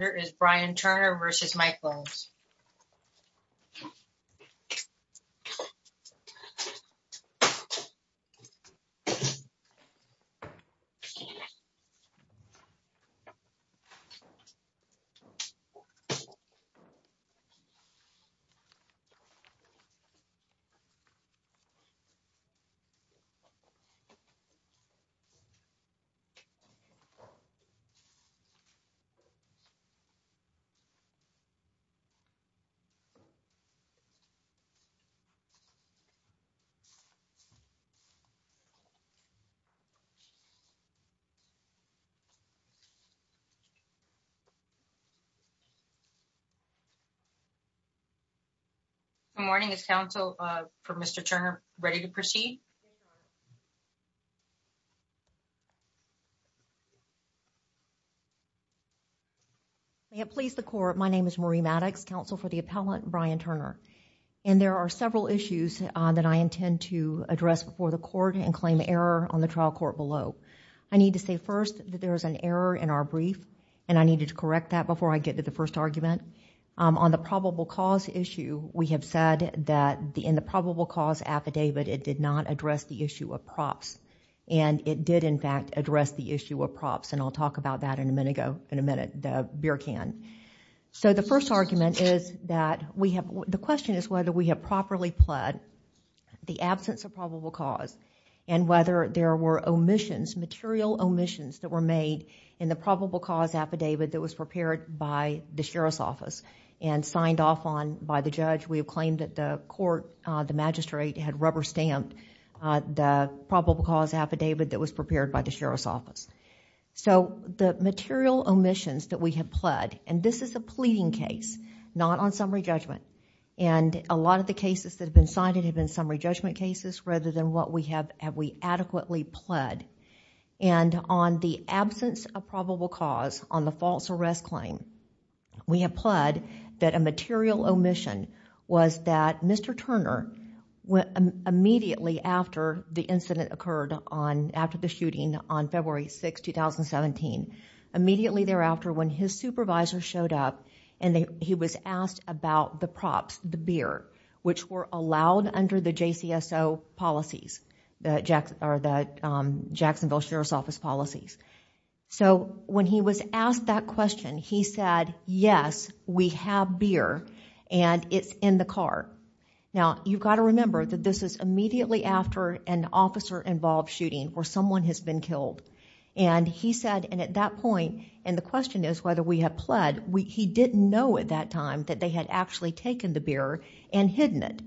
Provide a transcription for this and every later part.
Here is Brian Turner versus Mike Williams. Good morning. Is counsel for Mr. Turner ready to proceed? May it please the Court, my name is Marie Maddox, counsel for the appellant Brian Turner. And there are several issues that I intend to address before the Court and claim error on the trial court below. I need to say first that there is an error in our brief and I needed to correct that before I get to the first argument. On the probable cause issue, we have said that in the probable cause affidavit, it did not address the issue of props and it did in fact address the issue of props. And I'll talk about that in a minute, the beer can. So the first argument is that we have, the question is whether we have properly pled the absence of probable cause and whether there were omissions, material omissions that were made in the probable cause affidavit that was prepared by the Sheriff's Office and signed off on by the judge. We have claimed that the court, the magistrate had rubber stamped the probable cause affidavit that was prepared by the Sheriff's Office. So the material omissions that we have pled, and this is a pleading case, not on summary judgment. And a lot of the cases that have been cited have been summary judgment cases rather than what we have adequately pled. And on the absence of probable cause on the false arrest claim, we have pled that a material omission was that Mr. Turner, immediately after the incident occurred on, after the shooting on February 6, 2017, immediately thereafter when his supervisor showed up and he was asked about the props, the beer, which were allowed under the JCSO policies, the Jacksonville Sheriff's Office policies. So when he was asked that question, he said, yes, we have beer and it's in the car. Now, you've got to remember that this is immediately after an officer-involved shooting where someone has been killed. And he said, and at that point, and the question is whether we have pled, he didn't know at that time that they had actually taken the beer and hidden it.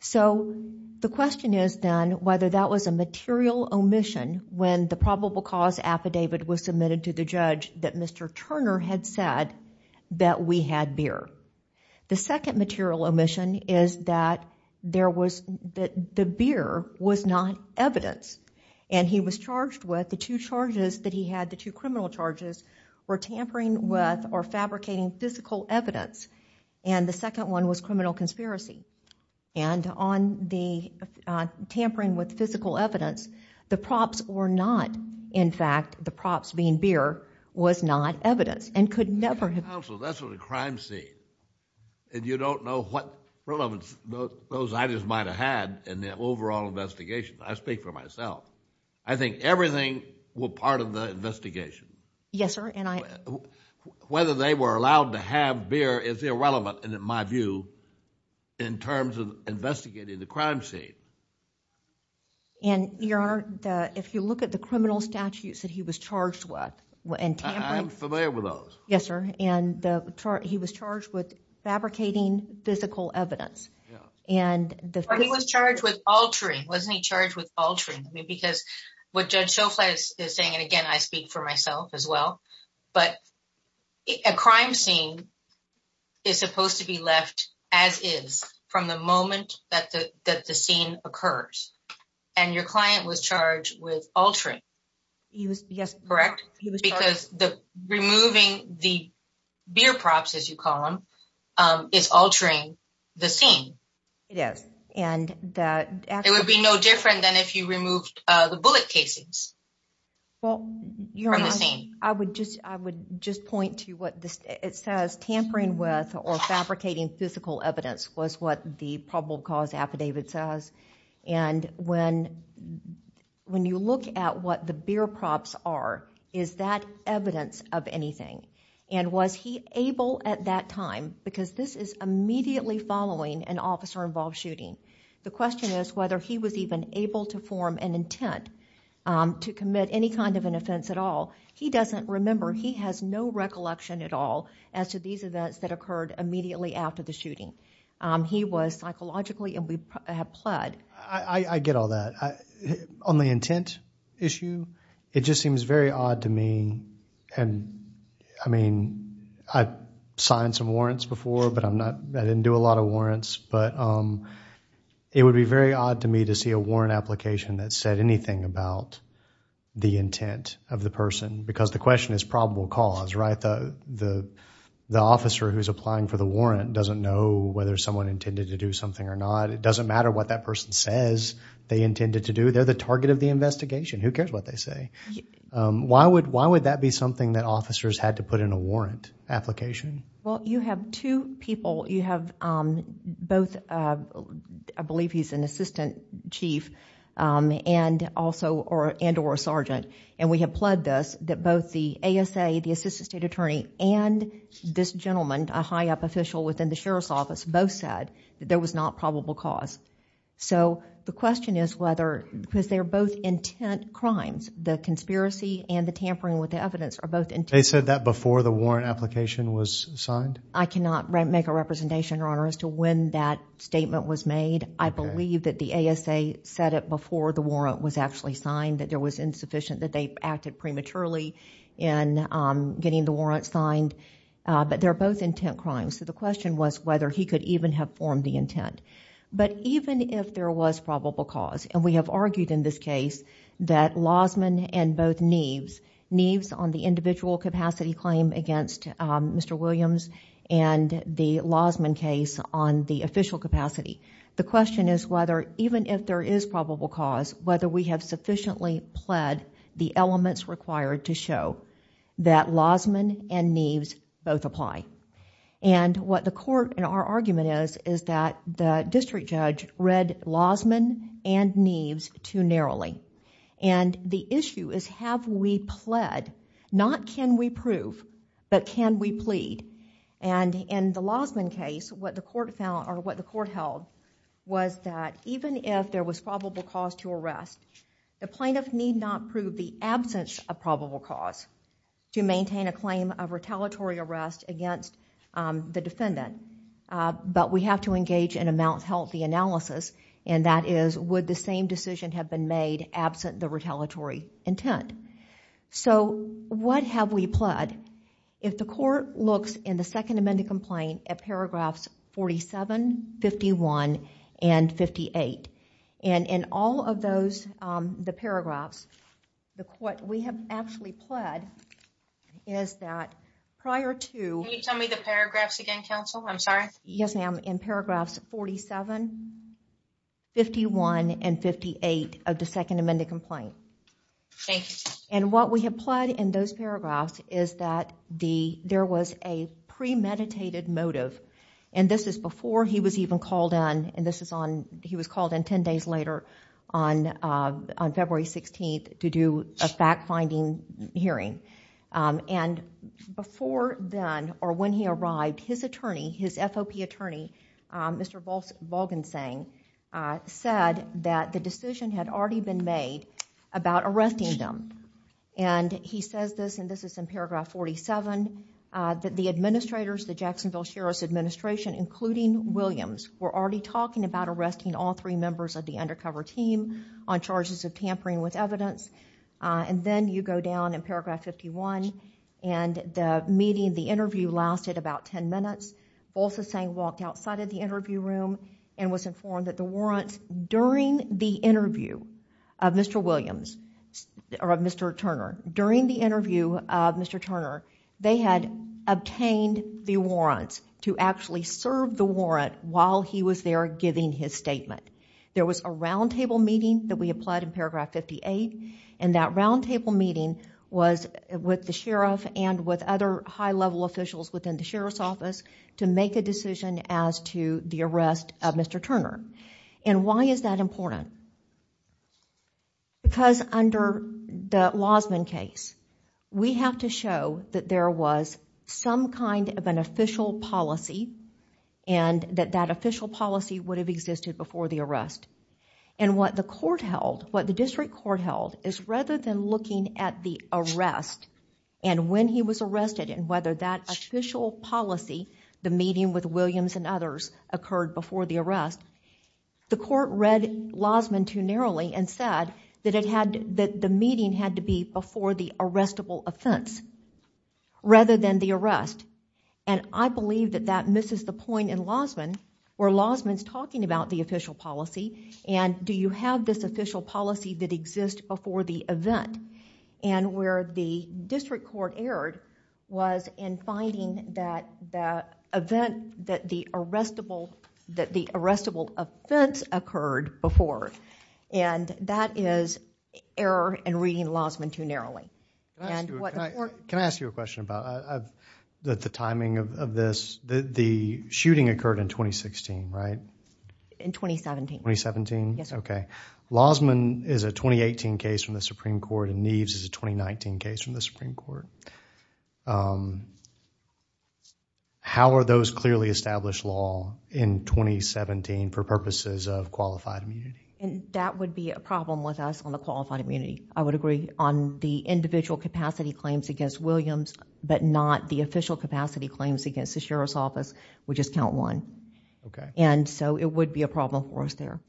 So the question is then whether that was a material omission when the probable cause affidavit was submitted to the judge that Mr. Turner had said that we had beer. The second material omission is that the beer was not evidence. And he was charged with the two charges that he had, the two criminal charges, were tampering with or fabricating physical evidence. And the second one was criminal conspiracy. And on the tampering with physical evidence, the props were not, in fact, the props being beer was not evidence and could never have been. Counsel, that's what a crime scene, and you don't know what relevance those items might have had in the overall investigation. I speak for myself. I think everything were part of the investigation. Yes, sir. And I Whether they were allowed to have beer is irrelevant, in my view, in terms of investigating the crime scene. And, Your Honor, if you look at the criminal statutes that he was charged with and tampering I'm familiar with those. Yes, sir. And the charge, he was charged with fabricating physical evidence. Yeah. And the He was charged with altering, wasn't he charged with altering? I mean, because what Judge Schofield is saying, and again, I speak for myself as well, but a crime scene is supposed to be left as is from the moment that the scene occurs. And your client was charged with altering. He was, yes. Correct? He was charged Because the removing the beer props, as you call them, is altering the scene. It is. And that It would be no different than if you removed the bullet casings from the scene. I would just, I would just point to what it says tampering with or fabricating physical evidence was what the probable cause affidavit says. And when, when you look at what the beer props are, is that evidence of anything? And was he able at that time, because this is immediately following an officer-involved shooting. The question is whether he was even able to form an intent to commit any kind of an offense at all. He doesn't remember. He has no recollection at all as to these events that occurred immediately after the shooting. He was psychologically, and we have pled. I get all that. On the intent issue, it just seems very odd to me. And I mean, I've signed some warrants before, but I'm not, I didn't do a lot of warrants, but it would be very odd to me to see a warrant application that said anything about the intent of the person. Because the question is probable cause, right? The, the, the officer who's applying for the warrant doesn't know whether someone intended to do something or not. It doesn't matter what that person says they intended to do. They're the target of the investigation. Who cares what they say? Why would, why would that be something that officers had to put in a warrant application? Well, you have two people. You have both, I believe he's an assistant chief, and also, and or a sergeant. And we have pled this, that both the ASA, the assistant state attorney, and this gentleman, a high up official within the sheriff's office, both said that there was not probable cause. So the question is whether, because they're both intent crimes, the conspiracy and the tampering with the evidence are both intent. They said that before the warrant application was signed? I cannot make a representation, Your Honor, as to when that statement was made. I believe that the ASA said it before the warrant was actually signed, that there was insufficient, that they acted prematurely in getting the warrant signed. But they're both intent crimes. So the question was whether he could even have formed the intent. But even if there was probable cause, and we have argued in this case that Lozman and both Neeves, Neeves on the individual capacity claim against Mr. Williams and the Lozman case on the official capacity, the question is whether, even if there is probable cause, whether we have sufficiently pled the elements required to show that Lozman and Neeves both apply. And what the court, and our argument is, is that the district judge read Lozman and Neeves too narrowly. And the issue is, have we pled? Not can we prove, but can we plead? And in the Lozman case, what the court found, or what the court held, was that even if there was probable cause to arrest, the plaintiff need not prove the absence of probable cause to maintain a claim of retaliatory arrest against the defendant. But we have to engage in a mouth-healthy analysis, and that is, would the same decision have been made absent the retaliatory intent? So, what have we pled? If the court looks in the second amended complaint at paragraphs 47, 51, and 58, and in all of those, the paragraphs, what we have actually pled is that prior to... Can you tell me the paragraphs again, counsel? I'm sorry. Yes, ma'am. In paragraphs 47, 51, and 58 of the second amended complaint. Thank you. And what we have pled in those paragraphs is that there was a premeditated motive, and this is before he was even called in, and this is on, he was called in ten days later on February 16th to do a fact-finding hearing. And before then, or when he arrived, his attorney, his FOP attorney, Mr. Volgensang, said that the decision had already been made about arresting them. And he says this, and this is in paragraph 47, that the administrators, the Jacksonville Sheriff's Administration, including Williams, were already talking about arresting all three members of the undercover team on charges of tampering with evidence. And then you go down in paragraph 51, and the meeting, the interview lasted about ten minutes. Volgensang walked outside of the interview room and was informed that the warrants during the interview of Mr. Williams, or of Mr. Turner, during the interview of Mr. Turner, they had obtained the warrants to actually serve the warrant while he was there giving his statement. There was a roundtable meeting that we applied in paragraph 58, and that roundtable meeting was with the sheriff and with other high-level officials within the sheriff's office to make a decision as to the arrest of Mr. Turner. And why is that important? Because under the Losman case, we have to show that there was some kind of an official policy, and that official policy would have existed before the arrest. And what the court held, what the district court held, is rather than looking at the arrest and when he was arrested and whether that official policy, the meeting with Williams and others, occurred before the arrest, the court read Losman too narrowly and said that it had, that the meeting had to be before the arrestable offense rather than the arrest. And I believe that that misses the point in Losman, where Losman's talking about the official policy, and do you have this official policy that exists before the event? And where the district court erred was in finding that event, that the arrestable offense occurred before. And that is error in reading Losman too narrowly. Can I ask you a question about the timing of this? The shooting occurred in 2016, right? In 2017. In 2017? Yes. Okay. Losman is a 2018 case from the Supreme Court and Neves is a 2019 case from the Supreme Court. How are those clearly established law in 2017 for purposes of qualified immunity? And that would be a problem with us on the qualified immunity. I would agree on the individual capacity claims against Williams, but not the official capacity claims against the Sheriff's Office, which is count one. And so it would be a problem for us there.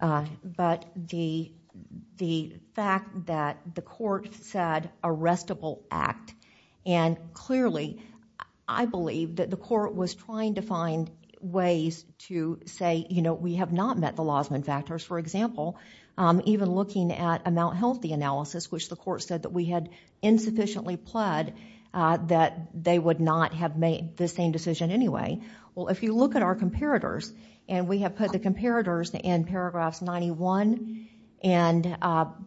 But the fact that the court said arrestable act, and clearly I believe that the court was trying to find ways to say, you know, we have not met the Losman factors. For example, even looking at a Mount Healthy analysis, which the court said that we had insufficiently pled that they would not have made the same decision anyway. Well, if you look at our comparators, and we have put the comparators in paragraphs 91 and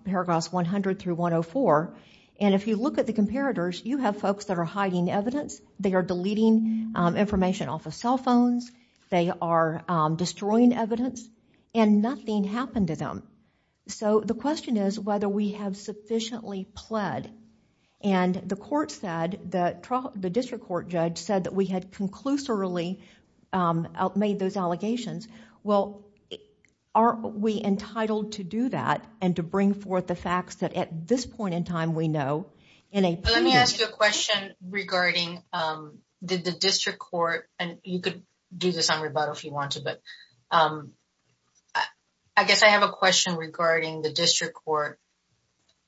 paragraphs 100 through 104. And if you look at the comparators, you have folks that are hiding evidence. They are deleting information off of cell phones. They are destroying evidence. And nothing happened to them. So the question is whether we have sufficiently pled. And the court said that the district court judge said that we had conclusively made those allegations. Well, aren't we entitled to do that and to bring forth the facts that at this point in time we know in a- Let me ask you a question regarding the district court. And you could do this on rebuttal if you want to. But I guess I have a question regarding the district court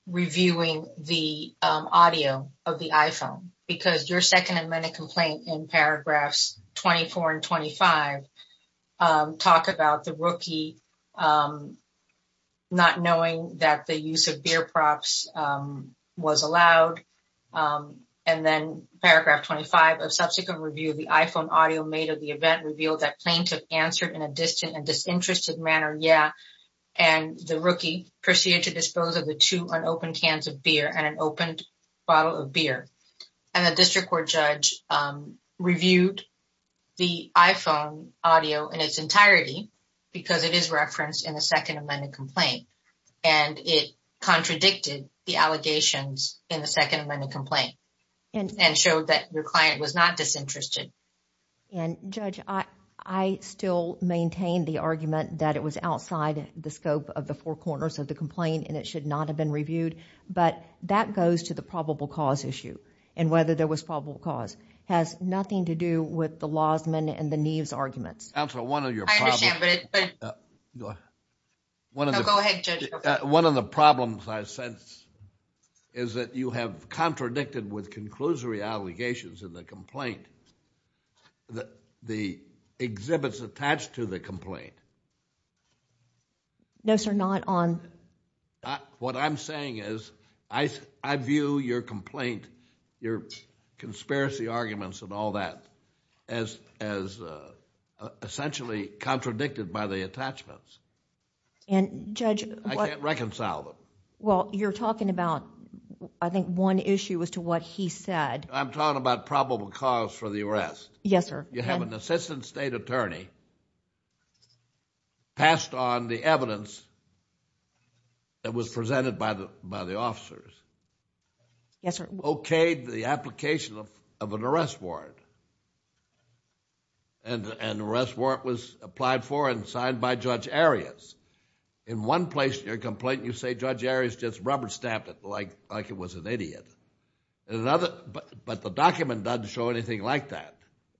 reviewing the audio of the iPhone. Because your second amendment complaint in paragraphs 24 and 25 talk about the rookie not knowing that the use of beer props was allowed. And then paragraph 25 of the district court judge answered in a distant and disinterested manner, yeah, and the rookie proceeded to dispose of the two unopened cans of beer and an opened bottle of beer. And the district court judge reviewed the iPhone audio in its entirety because it is referenced in the second amendment complaint. And it contradicted the allegations in the second amendment complaint and showed that your client was not disinterested. And Judge, I still maintain the argument that it was outside the scope of the four corners of the complaint and it should not have been reviewed. But that goes to the probable cause issue and whether there was probable cause. It has nothing to do with the Lozman and the Neves arguments. Counsel, one of your problems- I understand, but it's- Go ahead. No, go ahead, Judge. One of the problems I sense is that you have contradicted with conclusory allegations in the complaint, the exhibits attached to the complaint. No, sir, not on- What I'm saying is I view your complaint, your conspiracy arguments and all that as essentially contradicted by the attachments. And Judge- I can't reconcile them. Well, you're talking about, I think, one issue as to what he said. I'm talking about probable cause for the arrest. Yes, sir. You have an assistant state attorney passed on the evidence that was presented by the officers. Yes, sir. Okayed the application of an arrest warrant. And the arrest warrant was applied for and signed by Judge Arias. In one place in your complaint, you say Judge Arias just rubber stamped that the judge was an idiot. But the document doesn't show anything like that.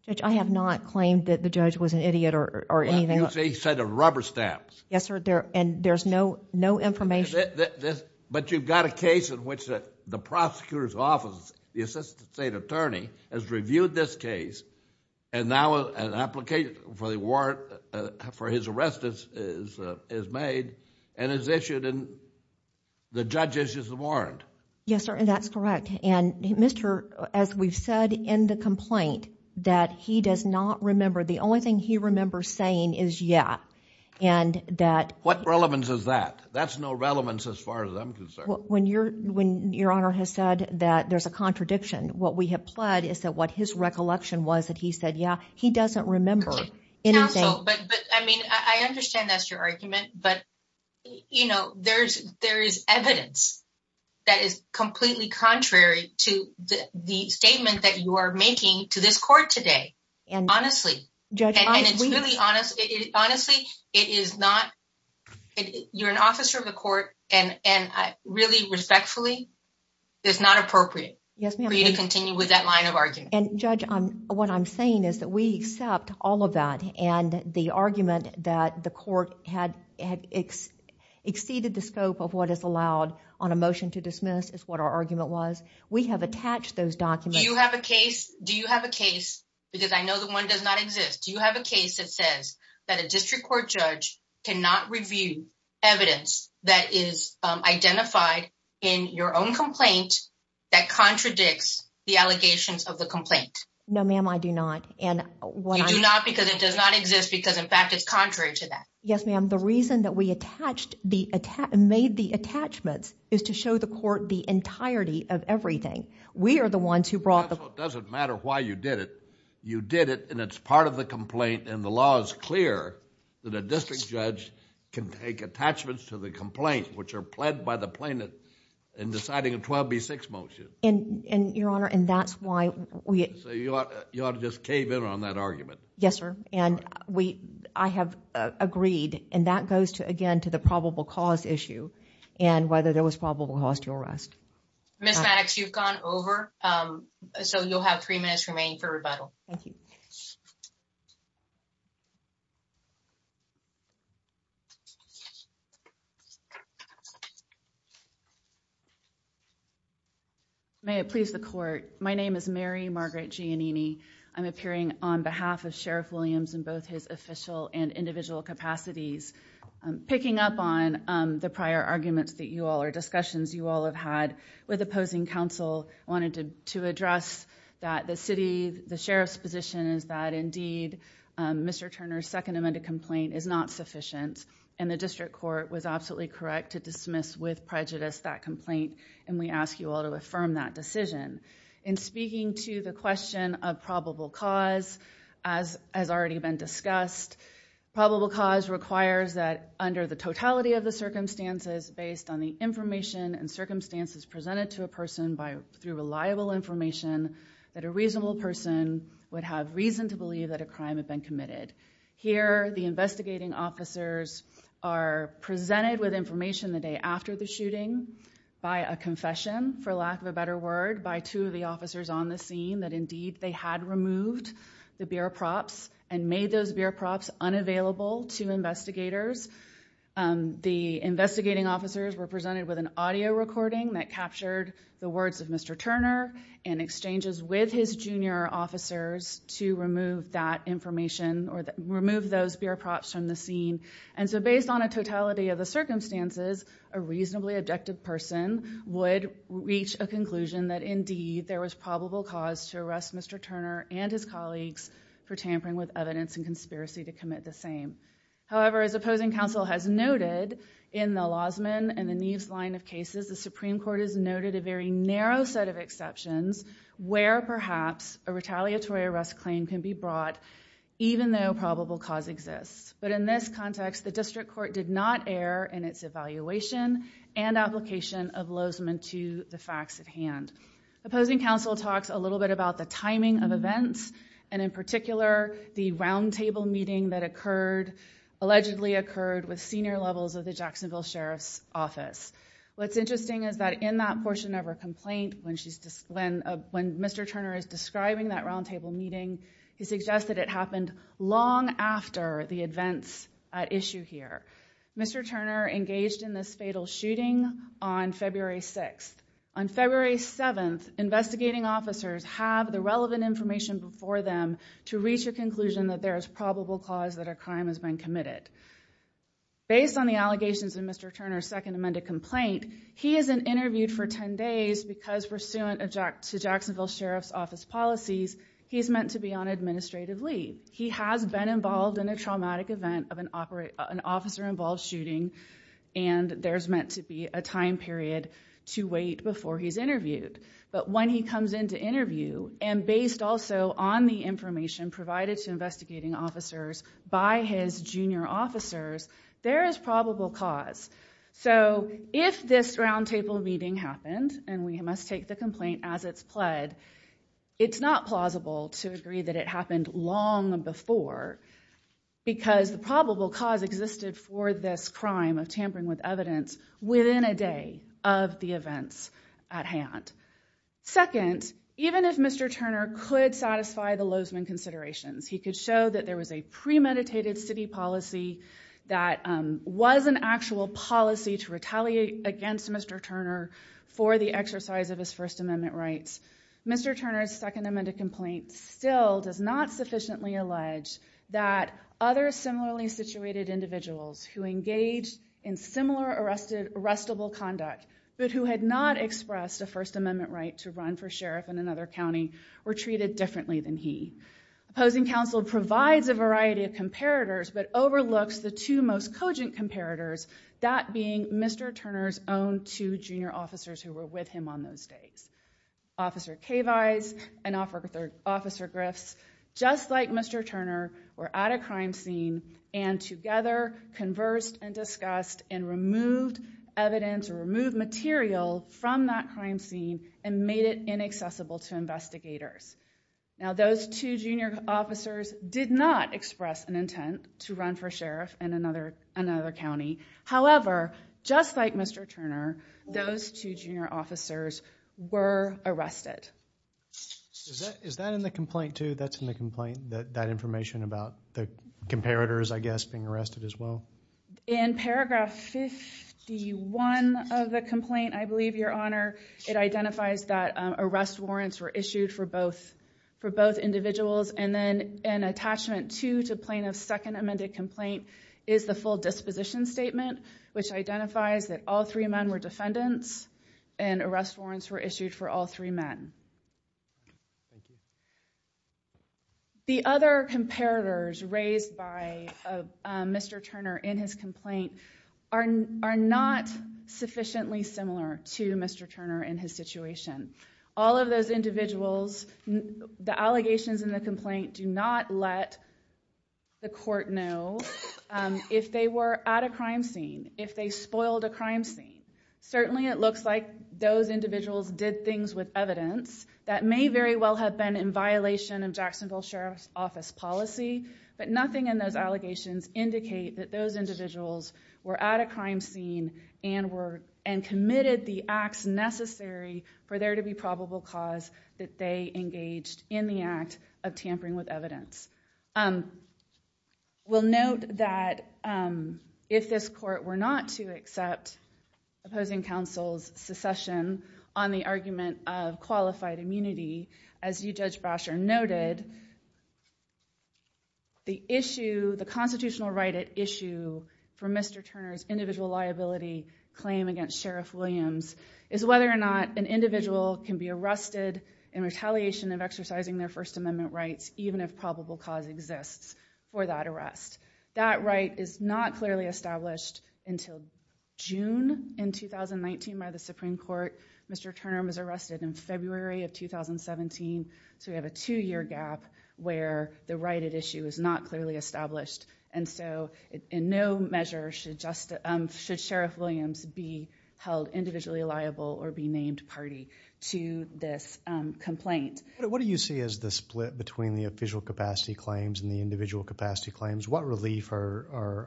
Judge, I have not claimed that the judge was an idiot or anything like that. Well, you say he said a rubber stamp. Yes, sir. And there's no information. But you've got a case in which the prosecutor's office, the assistant state attorney has reviewed this case and now an application for the warrant for his arrest is made and is issued and the judge issues the warrant. Yes, sir. And that's correct. And, Mr., as we've said in the complaint, that he does not remember. The only thing he remembers saying is, yeah. And that... What relevance is that? That's no relevance as far as I'm concerned. When your honor has said that there's a contradiction, what we have pled is that what his recollection was that he said, yeah. He doesn't remember anything. Counsel, but, I mean, I understand that's your argument. But, you know, there's evidence that is completely contrary to the statement that you are making to this court today. And... Honestly, and it's really honest. Honestly, it is not... You're an officer of the court and really respectfully, it's not appropriate for you to continue with that line of argument. And, Judge, what I'm saying is that we accept all of that and the argument that the court had exceeded the scope of what is allowed on a motion to dismiss is what our argument was. We have attached those documents... Do you have a case? Do you have a case? Because I know that one does not exist. Do you have a case that says that a district court judge cannot review evidence that is identified in your own complaint that contradicts the allegations of the complaint? No, ma'am, I do not. And what I... You do not because it does not exist because, in fact, it's contrary to that. Yes, ma'am. The reason that we attached the... made the attachments is to show the court the entirety of everything. We are the ones who brought the... So it doesn't matter why you did it. You did it and it's part of the complaint. And the law is clear that a district judge can take attachments to the complaint, which are pled by the plaintiff in deciding a 12B6 motion. And, Your Honor, and that's why we... So you ought to just cave in on that argument. Yes, sir. And we... I have agreed. And that goes to, again, to the probable cause issue and whether there was probable cause to arrest. Ms. Maddox, you've gone over. So you'll have three minutes remaining for rebuttal. Thank you. May it please the court. My name is Mary Margaret Giannini. I'm appearing on behalf of Sheriff Williams in both his official and individual capacities. Picking up on the prior arguments that you all or discussions you all have had with opposing counsel, I wanted to address that the city, the sheriff's position is that, indeed, Mr. Turner's second amended complaint is not sufficient. And the district court was absolutely correct to dismiss with prejudice that complaint. And we ask you all to affirm that decision. In speaking to the question of probable cause, as has already been discussed, probable cause requires that under the totality of the circumstances, based on the information and circumstances presented to a person through reliable information, that a reasonable person would have reason to believe that a crime had been committed. Here, the investigating officers are presented with information the day after the shooting by a confession, for lack of a better word, by two of the officers on the scene that, indeed, they had removed the beer props and made those beer props unavailable to investigators. The investigating officers were presented with an audio recording that captured the words of Mr. Turner in exchanges with his junior officers to remove that information or remove those beer props from the scene. And so based on a totality of the circumstances, a reasonably objective person would reach a conclusion that, indeed, there was probable cause to arrest Mr. Turner and his colleagues for tampering with evidence and conspiracy to arrest him. Opposing counsel has noted in the Lozman and the Neves line of cases, the Supreme Court has noted a very narrow set of exceptions where perhaps a retaliatory arrest claim can be brought, even though probable cause exists. But in this context, the district court did not err in its evaluation and application of Lozman to the facts at hand. Opposing counsel talks a little bit about the timing of events, and in particular, the roundtable meeting that occurred, allegedly senior levels of the Jacksonville Sheriff's Office. What's interesting is that in that portion of her complaint, when Mr. Turner is describing that roundtable meeting, he suggested it happened long after the events at issue here. Mr. Turner engaged in this fatal shooting on February 6th. On February 7th, investigating officers have the relevant information before them to reach a conclusion that there is probable cause that a crime has been committed. Based on the allegations in Mr. Turner's second amended complaint, he isn't interviewed for 10 days because pursuant to Jacksonville Sheriff's Office policies, he's meant to be on administrative leave. He has been involved in a traumatic event of an officer-involved shooting, and there's meant to be a time period to wait before he's interviewed. But when he comes in to interview, and based also on the information provided to investigating officers by his junior officers, there is probable cause. So if this roundtable meeting happened, and we must take the complaint as it's pled, it's not plausible to agree that it happened long before because the probable cause existed for this crime of tampering with evidence within a day of the events at hand. Second, even if Mr. Turner could satisfy the Lozeman considerations, he could show that there was a premeditated city policy that was an actual policy to retaliate against Mr. Turner for the exercise of his First Amendment rights, Mr. Turner's second amended complaint still does not sufficiently allege that other similarly situated individuals who engaged in similar arrestable conduct, but who had not expressed a First Amendment right to run for sheriff in another county, were treated differently than he. Opposing counsel provides a variety of comparators, but overlooks the two most cogent comparators, that being Mr. Turner's own two junior officers who were with him on those days. Officer Kaveis and Officer Griffs, just like Mr. Turner, were at a crime scene and together conversed and discussed and removed evidence or removed material from that crime scene and made it inaccessible to investigators. Now those two junior officers did not express an intent to run for sheriff in another county. However, just like Mr. Turner, those two junior officers were arrested. Is that in the complaint too? That's in the complaint, that information about the comparators, I guess, being arrested as well? In paragraph 51 of the complaint, I believe, Your Honor, it identifies that arrest warrants were issued for both individuals and then an attachment to plaintiff's second amended complaint is the full disposition statement, which identifies that all three men were defendants and arrest warrants were issued for all three men. Thank you. The other comparators raised by Mr. Turner in his complaint are not sufficiently similar to Mr. Turner in his situation. All of those individuals, the allegations in the complaint do not let the court know if they were at a crime scene, if they spoiled a crime scene. Certainly it looks like those individuals did things with evidence that may very well have been in violation of Jacksonville Sheriff's Office policy, but nothing in those allegations indicate that those individuals were at a crime scene and committed the acts necessary for there to be probable cause that they engaged in the act of tampering with evidence. We'll note that if this court were not to accept opposing counsel's secession on the argument of qualified immunity, as you, Judge Brasher, noted, the constitutional right at issue for Mr. Turner's individual liability claim against Sheriff Williams is whether or not an individual can be arrested in retaliation of exercising their First Amendment rights, even if probable cause exists for that arrest. That right is not clearly established until June in 2019 by the Supreme Court. Mr. Turner was arrested in February of 2017, so we have a two-year gap where the right at issue is not clearly established, and so in no measure should Sheriff Williams be held individually liable or be named party to this complaint. What do you see as the split between the official capacity claims and the individual capacity claims? What relief is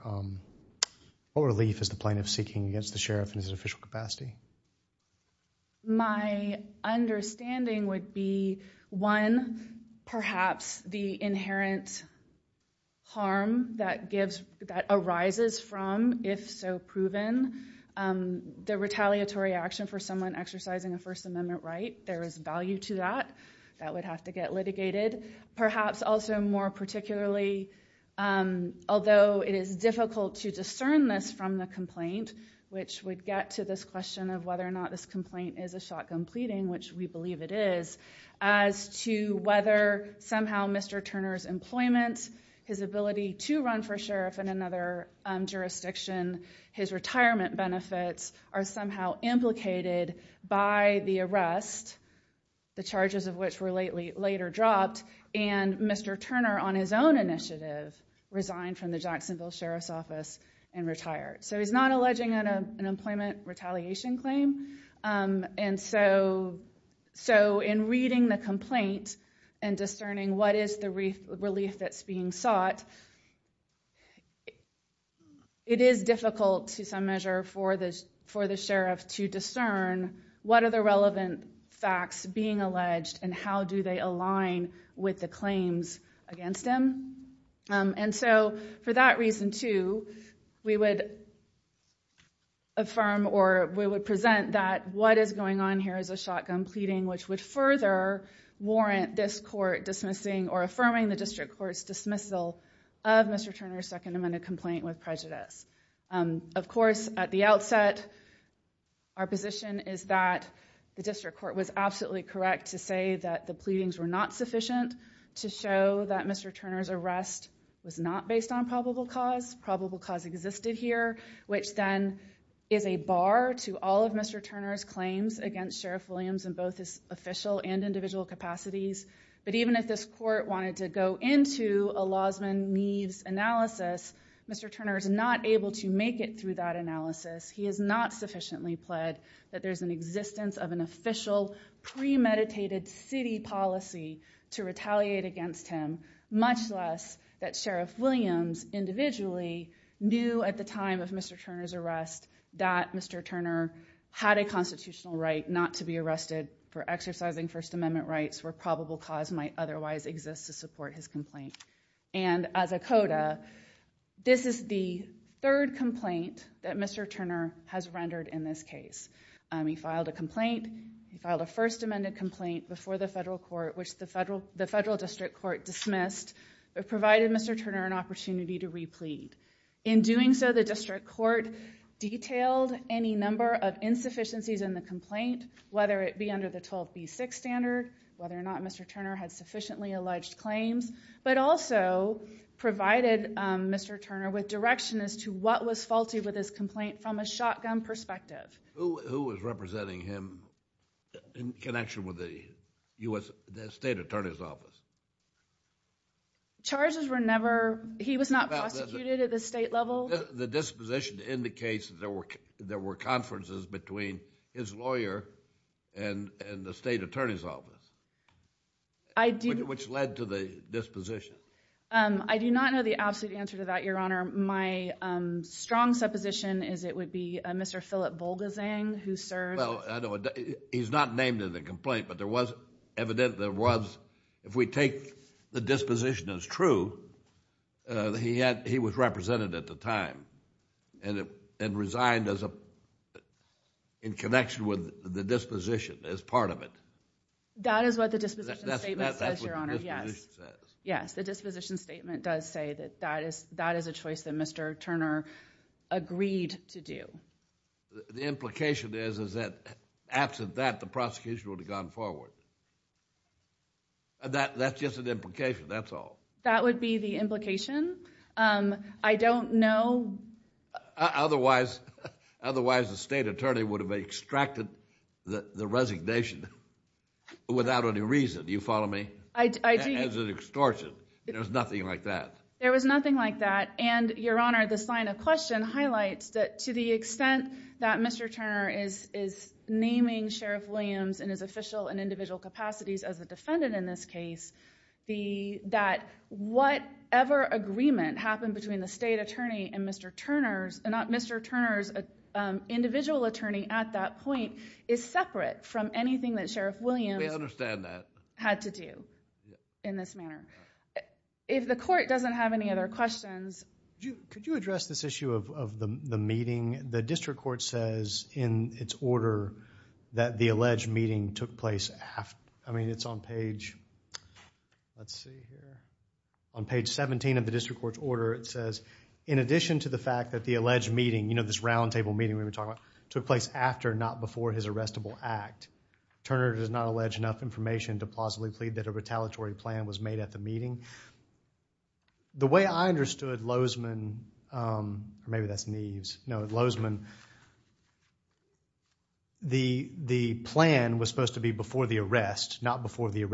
the plaintiff seeking against the sheriff in his official capacity? My understanding would be, one, perhaps the inherent harm that arises from, if so proven, the retaliatory action for someone exercising a perhaps also more particularly, although it is difficult to discern this from the complaint, which would get to this question of whether or not this complaint is a shotgun pleading, which we believe it is, as to whether somehow Mr. Turner's employment, his ability to run for sheriff in another jurisdiction, his retirement benefits are somehow implicated by the arrest, the charges of which were later dropped, and Mr. Turner on his own initiative resigned from the Jacksonville Sheriff's Office and retired. So he's not alleging an employment retaliation claim, and so in reading the complaint and discerning what is the relief that's being sought, it is difficult to some measure for the sheriff to discern what are the relevant facts being alleged and how do they align with the claims against him. And so for that reason, too, we would affirm or we would present that what is going on here is a shotgun pleading which would further warrant this court dismissing or affirming the district court's dismissal of Mr. Turner's Second Amendment complaint with prejudice. Of course, at the outset, our position is that the district court was absolutely correct to say that the pleadings were not sufficient to show that Mr. Turner's arrest was not based on probable cause. Probable cause existed here, which then is a bar to all of Mr. Turner's claims against Sheriff Williams in both his official and individual capacities. But even if this court wanted to go into a Lausman Neves analysis, Mr. Turner is not able to make it through that analysis. He has not sufficiently pled that there's an existence of an official premeditated city policy to retaliate against him, much less that Sheriff Williams individually knew at the time of Mr. Turner's arrest that Mr. Turner had a constitutional right not to be arrested for exercising First Amendment rights where probable cause might otherwise exist to support his complaint. And as a coda, this is the third complaint that Mr. Turner has rendered in this case. He filed a complaint. He filed a First Amendment complaint before the federal court, which the federal district court dismissed, but provided Mr. Turner an opportunity to replead. In doing so, the district court detailed any number of insufficiencies in the complaint, whether it be under the 12b6 standard, whether or not Mr. Turner had sufficiently alleged claims, but also provided Mr. Turner with direction as to what was faulty with his complaint from a shotgun perspective. Who is representing him in connection with the U.S. State Attorney's Office? Charges were never, he was not prosecuted at the state level. The disposition indicates that there were conferences between his lawyer and the State Attorney's Office, which led to the disposition. I do not know the absolute answer to that, Your Honor. My strong supposition is it would be Mr. Philip Volgazang who served. Well, he's not named in the complaint, but there was evident there was, if we take the disposition as true, he was represented at the time and resigned in connection with the disposition as part of it. That is what the disposition statement says, Your Honor. Yes, the disposition statement does say that that is a choice that Mr. Turner agreed to do. The implication is that absent that, the prosecution would have gone forward. That's just an implication, that's all. That would be the implication. I don't know. Otherwise, the State Attorney would have extracted the resignation without any reason. Do you follow me? As an extortion. There was nothing like that. There was nothing like that, and Your Honor, the sign of question highlights that to the extent that Mr. Turner is naming Sheriff Williams in his official and individual capacities as a defendant in this case, that whatever agreement happened between the State Attorney and Mr. Turner's, Mr. Turner's individual attorney at that point is separate from anything that Sheriff Williams had to do in this manner. If the court doesn't have any other questions. Could you address this issue of the meeting? The district court says in its order that the alleged meeting took place after, I mean it's on page, let's see here, on page 17 of the district court's order, it says in addition to the fact that the alleged meeting, you know this round table meeting we were talking about, took place after not before his arrestable act, Turner does not allege enough information to plausibly plead that a retaliatory plan was made at the meeting. The way I understood Lozeman, or maybe that's Neves, no Lozeman, the plan was supposed to be before the arrest, not before the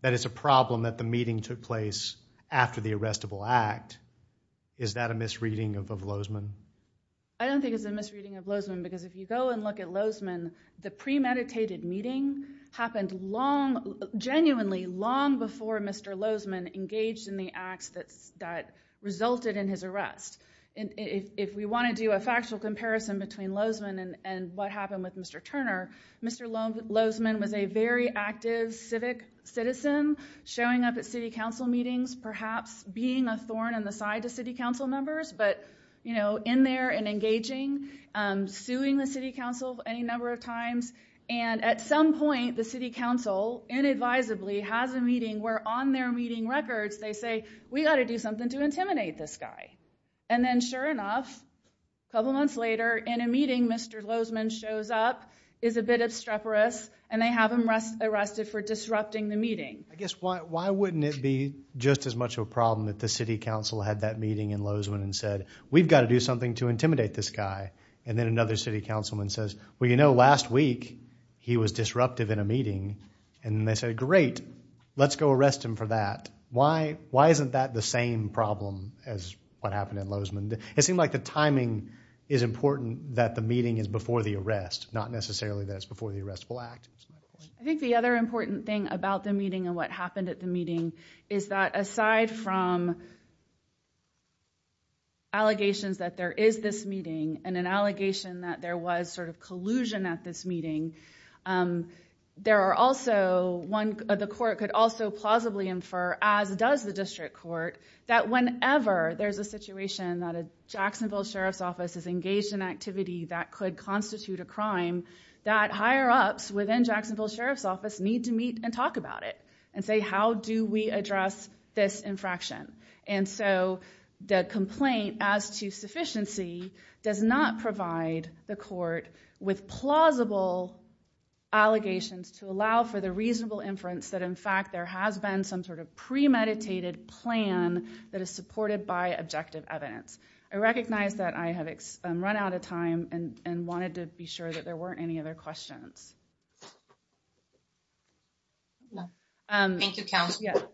that is a problem that the meeting took place after the arrestable act. Is that a misreading of Lozeman? I don't think it's a misreading of Lozeman because if you go and look at Lozeman, the premeditated meeting happened long, genuinely long before Mr. Lozeman engaged in the acts that that resulted in his arrest. And if we want to do a factual comparison between Lozeman and what happened with Mr. Turner, Mr. Lozeman was a very active civic citizen, showing up at city council meetings, perhaps being a thorn in the side to city council members, but you know in there and engaging, suing the city council any number of times, and at some point the city council inadvisably has a meeting where on their meeting records they say we got to do something to intimidate this guy. And then sure enough, a couple months later in a meeting Mr. Lozeman shows up, is a bit obstreperous, and they have him arrested for disrupting the meeting. I guess why wouldn't it be just as much of a problem that the city council had that meeting in Lozeman and said we've got to do something to intimidate this guy, and then another city councilman says well you know last week he was disruptive in a meeting, and they said great let's go arrest him for that. Why isn't that the same problem as what happened in Lozeman? It seemed like the timing is important that the meeting is before the arrest, not necessarily that it's before the arrestable act. I think the other important thing about the meeting and what happened at the meeting is that aside from allegations that there is this meeting and an allegation that there was collusion at this meeting, the court could also plausibly infer, as does the district court, that whenever there's a situation that a Jacksonville Sheriff's Office is engaged in activity that could constitute a crime, that higher-ups within Jacksonville Sheriff's Office need to meet and talk about it and say how do we address this infraction. And so the complaint as to sufficiency does not provide the court with plausible allegations to allow for the reasonable inference that in fact there has been some sort of premeditated plan that is supported by objective evidence. I recognize that I have run out of time and wanted to be sure that there weren't any other questions.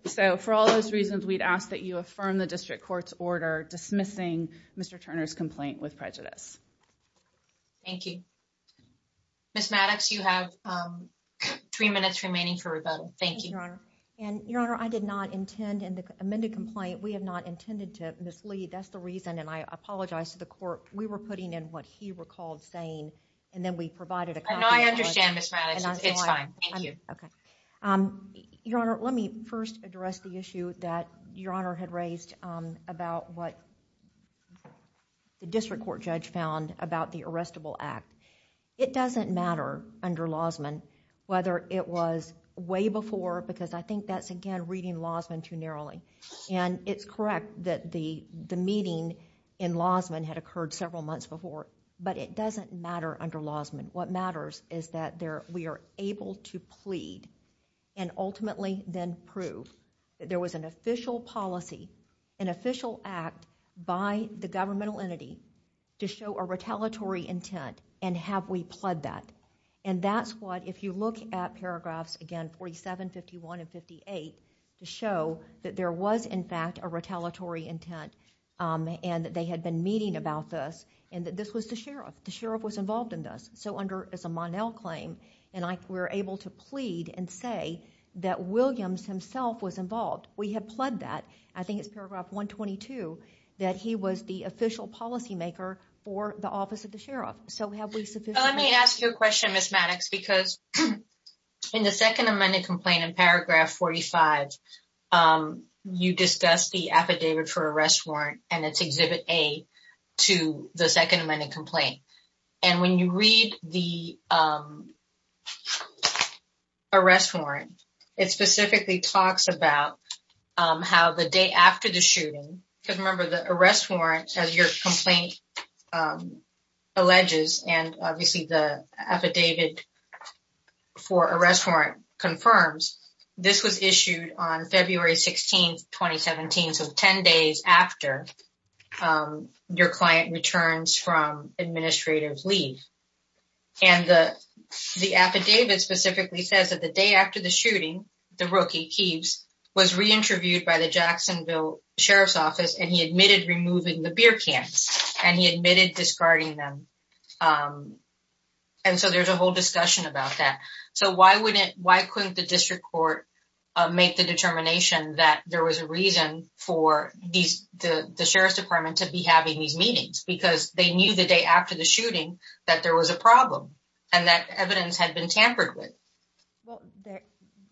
So for all those reasons we'd ask that you affirm the district court's order dismissing Mr. Turner's complaint with prejudice. Thank you. Ms. Maddox, you have three minutes remaining for rebuttal. Thank you, Your Honor. And Your Honor, I did not intend in the amended complaint, we have not intended to mislead. That's the reason and I apologize to the court. We were putting in what he recalled saying and then we provided a copy. No, I understand, Ms. Maddox. It's fine. Thank you. Okay. Your Honor, let me first address the issue that Your Honor had raised about what the district court judge found about the arrestable act. It doesn't matter under Lausman whether it was way before because I think that's again reading Lausman too narrowly. And it's correct that the meeting in Lausman had occurred several months before. But it doesn't matter under Lausman. What matters is that we are able to plead and ultimately then prove that there was an official policy, an official act by the governmental entity to show a retaliatory intent and have we pled that. And that's what if you look at paragraphs again 47, 51, and 58 to show that there was in fact a retaliatory intent and that they had been meeting about this and that this was the sheriff. The sheriff was involved in this. So under as a Monell claim and we're able to plead and say that Williams himself was involved. We have pled that. I think it's paragraph 122 that he was the official policymaker for the office of the sheriff. So have we sufficiently... Let me ask you a question, Ms. Maddox, because in the second amended complaint in paragraph 45, you discuss the affidavit for arrest warrant and it's exhibit A to the second amended complaint. And when you read the arrest warrant, it specifically talks about how the day after the shooting, because remember the arrest warrant as your complaint alleges and obviously the affidavit for arrest warrant confirms, this was issued on February 16th, 2017. So 10 days after your client returns from administrative leave. And the affidavit specifically says that the day after the shooting, the rookie Keves was re-interviewed by the Jacksonville Sheriff's Office and he admitted removing the beer cans and he admitted discarding them. And so there's a whole discussion about that. So why couldn't the district court make the determination that there was a reason for the sheriff's department to be having these meetings because they knew the day after the shooting that there was a problem and that evidence had been tampered with. Well,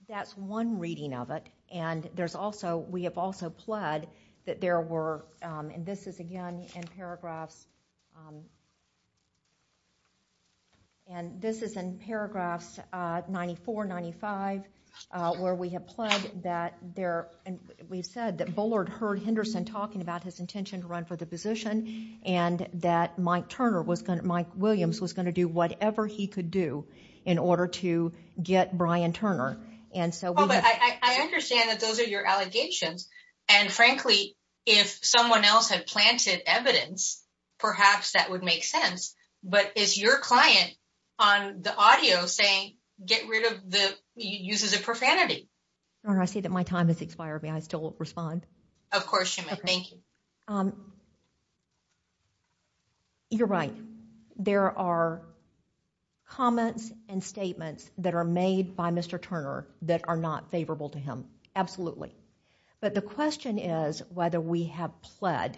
that's one reading of it. And we have also pled that there were, and this is again in paragraphs, and this is in paragraphs 94, 95, where we have pled that there, and we've said that Bullard heard Henderson talking about his intention to run for the position and that Mike Turner was going to, Mike Williams was going to do whatever he could do in order to get Brian Turner. And I understand that those are your allegations. And frankly, if someone else had planted evidence, perhaps that would make sense. But is your client on the audio saying, get rid of the, uses of profanity. I see that my time has expired. May I still respond? Of course you may. Thank you. Um, you're right. There are comments and statements that are made by Mr. Turner that are not favorable to him. Absolutely. But the question is whether we have pled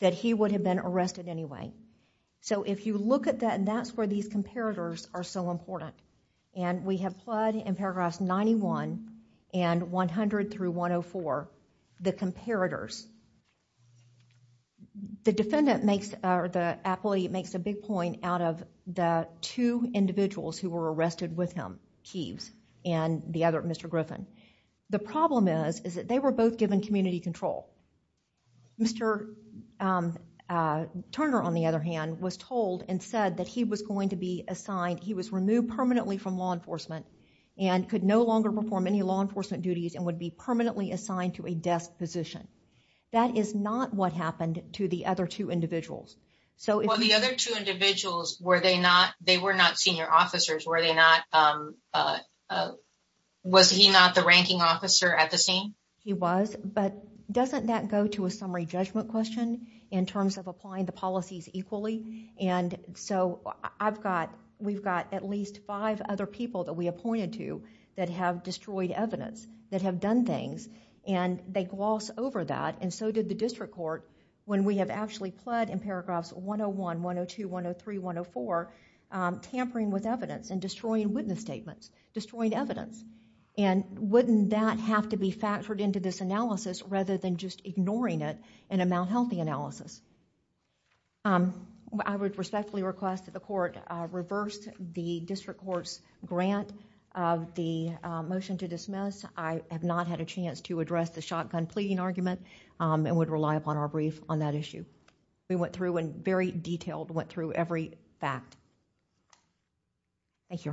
that he would have been arrested anyway. So if you look at that and that's where these comparators are so important and we have pled in paragraphs 91 and 100 through 104, the comparators, the defendant makes, or the appellee makes a big point out of the two individuals who were arrested with him, Keeves and the other, Mr. Griffin. The problem is, is that they were both given community control. Mr. Turner, on the other hand, was told and said that he was going to be from law enforcement and could no longer perform any law enforcement duties and would be permanently assigned to a desk position. That is not what happened to the other two individuals. So the other two individuals, were they not, they were not senior officers, were they not, was he not the ranking officer at the scene? He was, but doesn't that go to a summary judgment question in terms of applying the policies equally? And so I've got, we've got at least five other people that we appointed to that have destroyed evidence that have done things and they gloss over that and so did the district court when we have actually pled in paragraphs 101, 102, 103, 104 tampering with evidence and destroying witness statements, destroying evidence. And wouldn't that have to be factored into this analysis rather than just ignoring it in a malhealthy analysis? I would respectfully request that the court reverse the district court's grant of the motion to dismiss. I have not had a chance to address the shotgun pleading argument and would rely upon our brief on that issue. We went through and very detailed went through every fact. Thank you, Your Honor.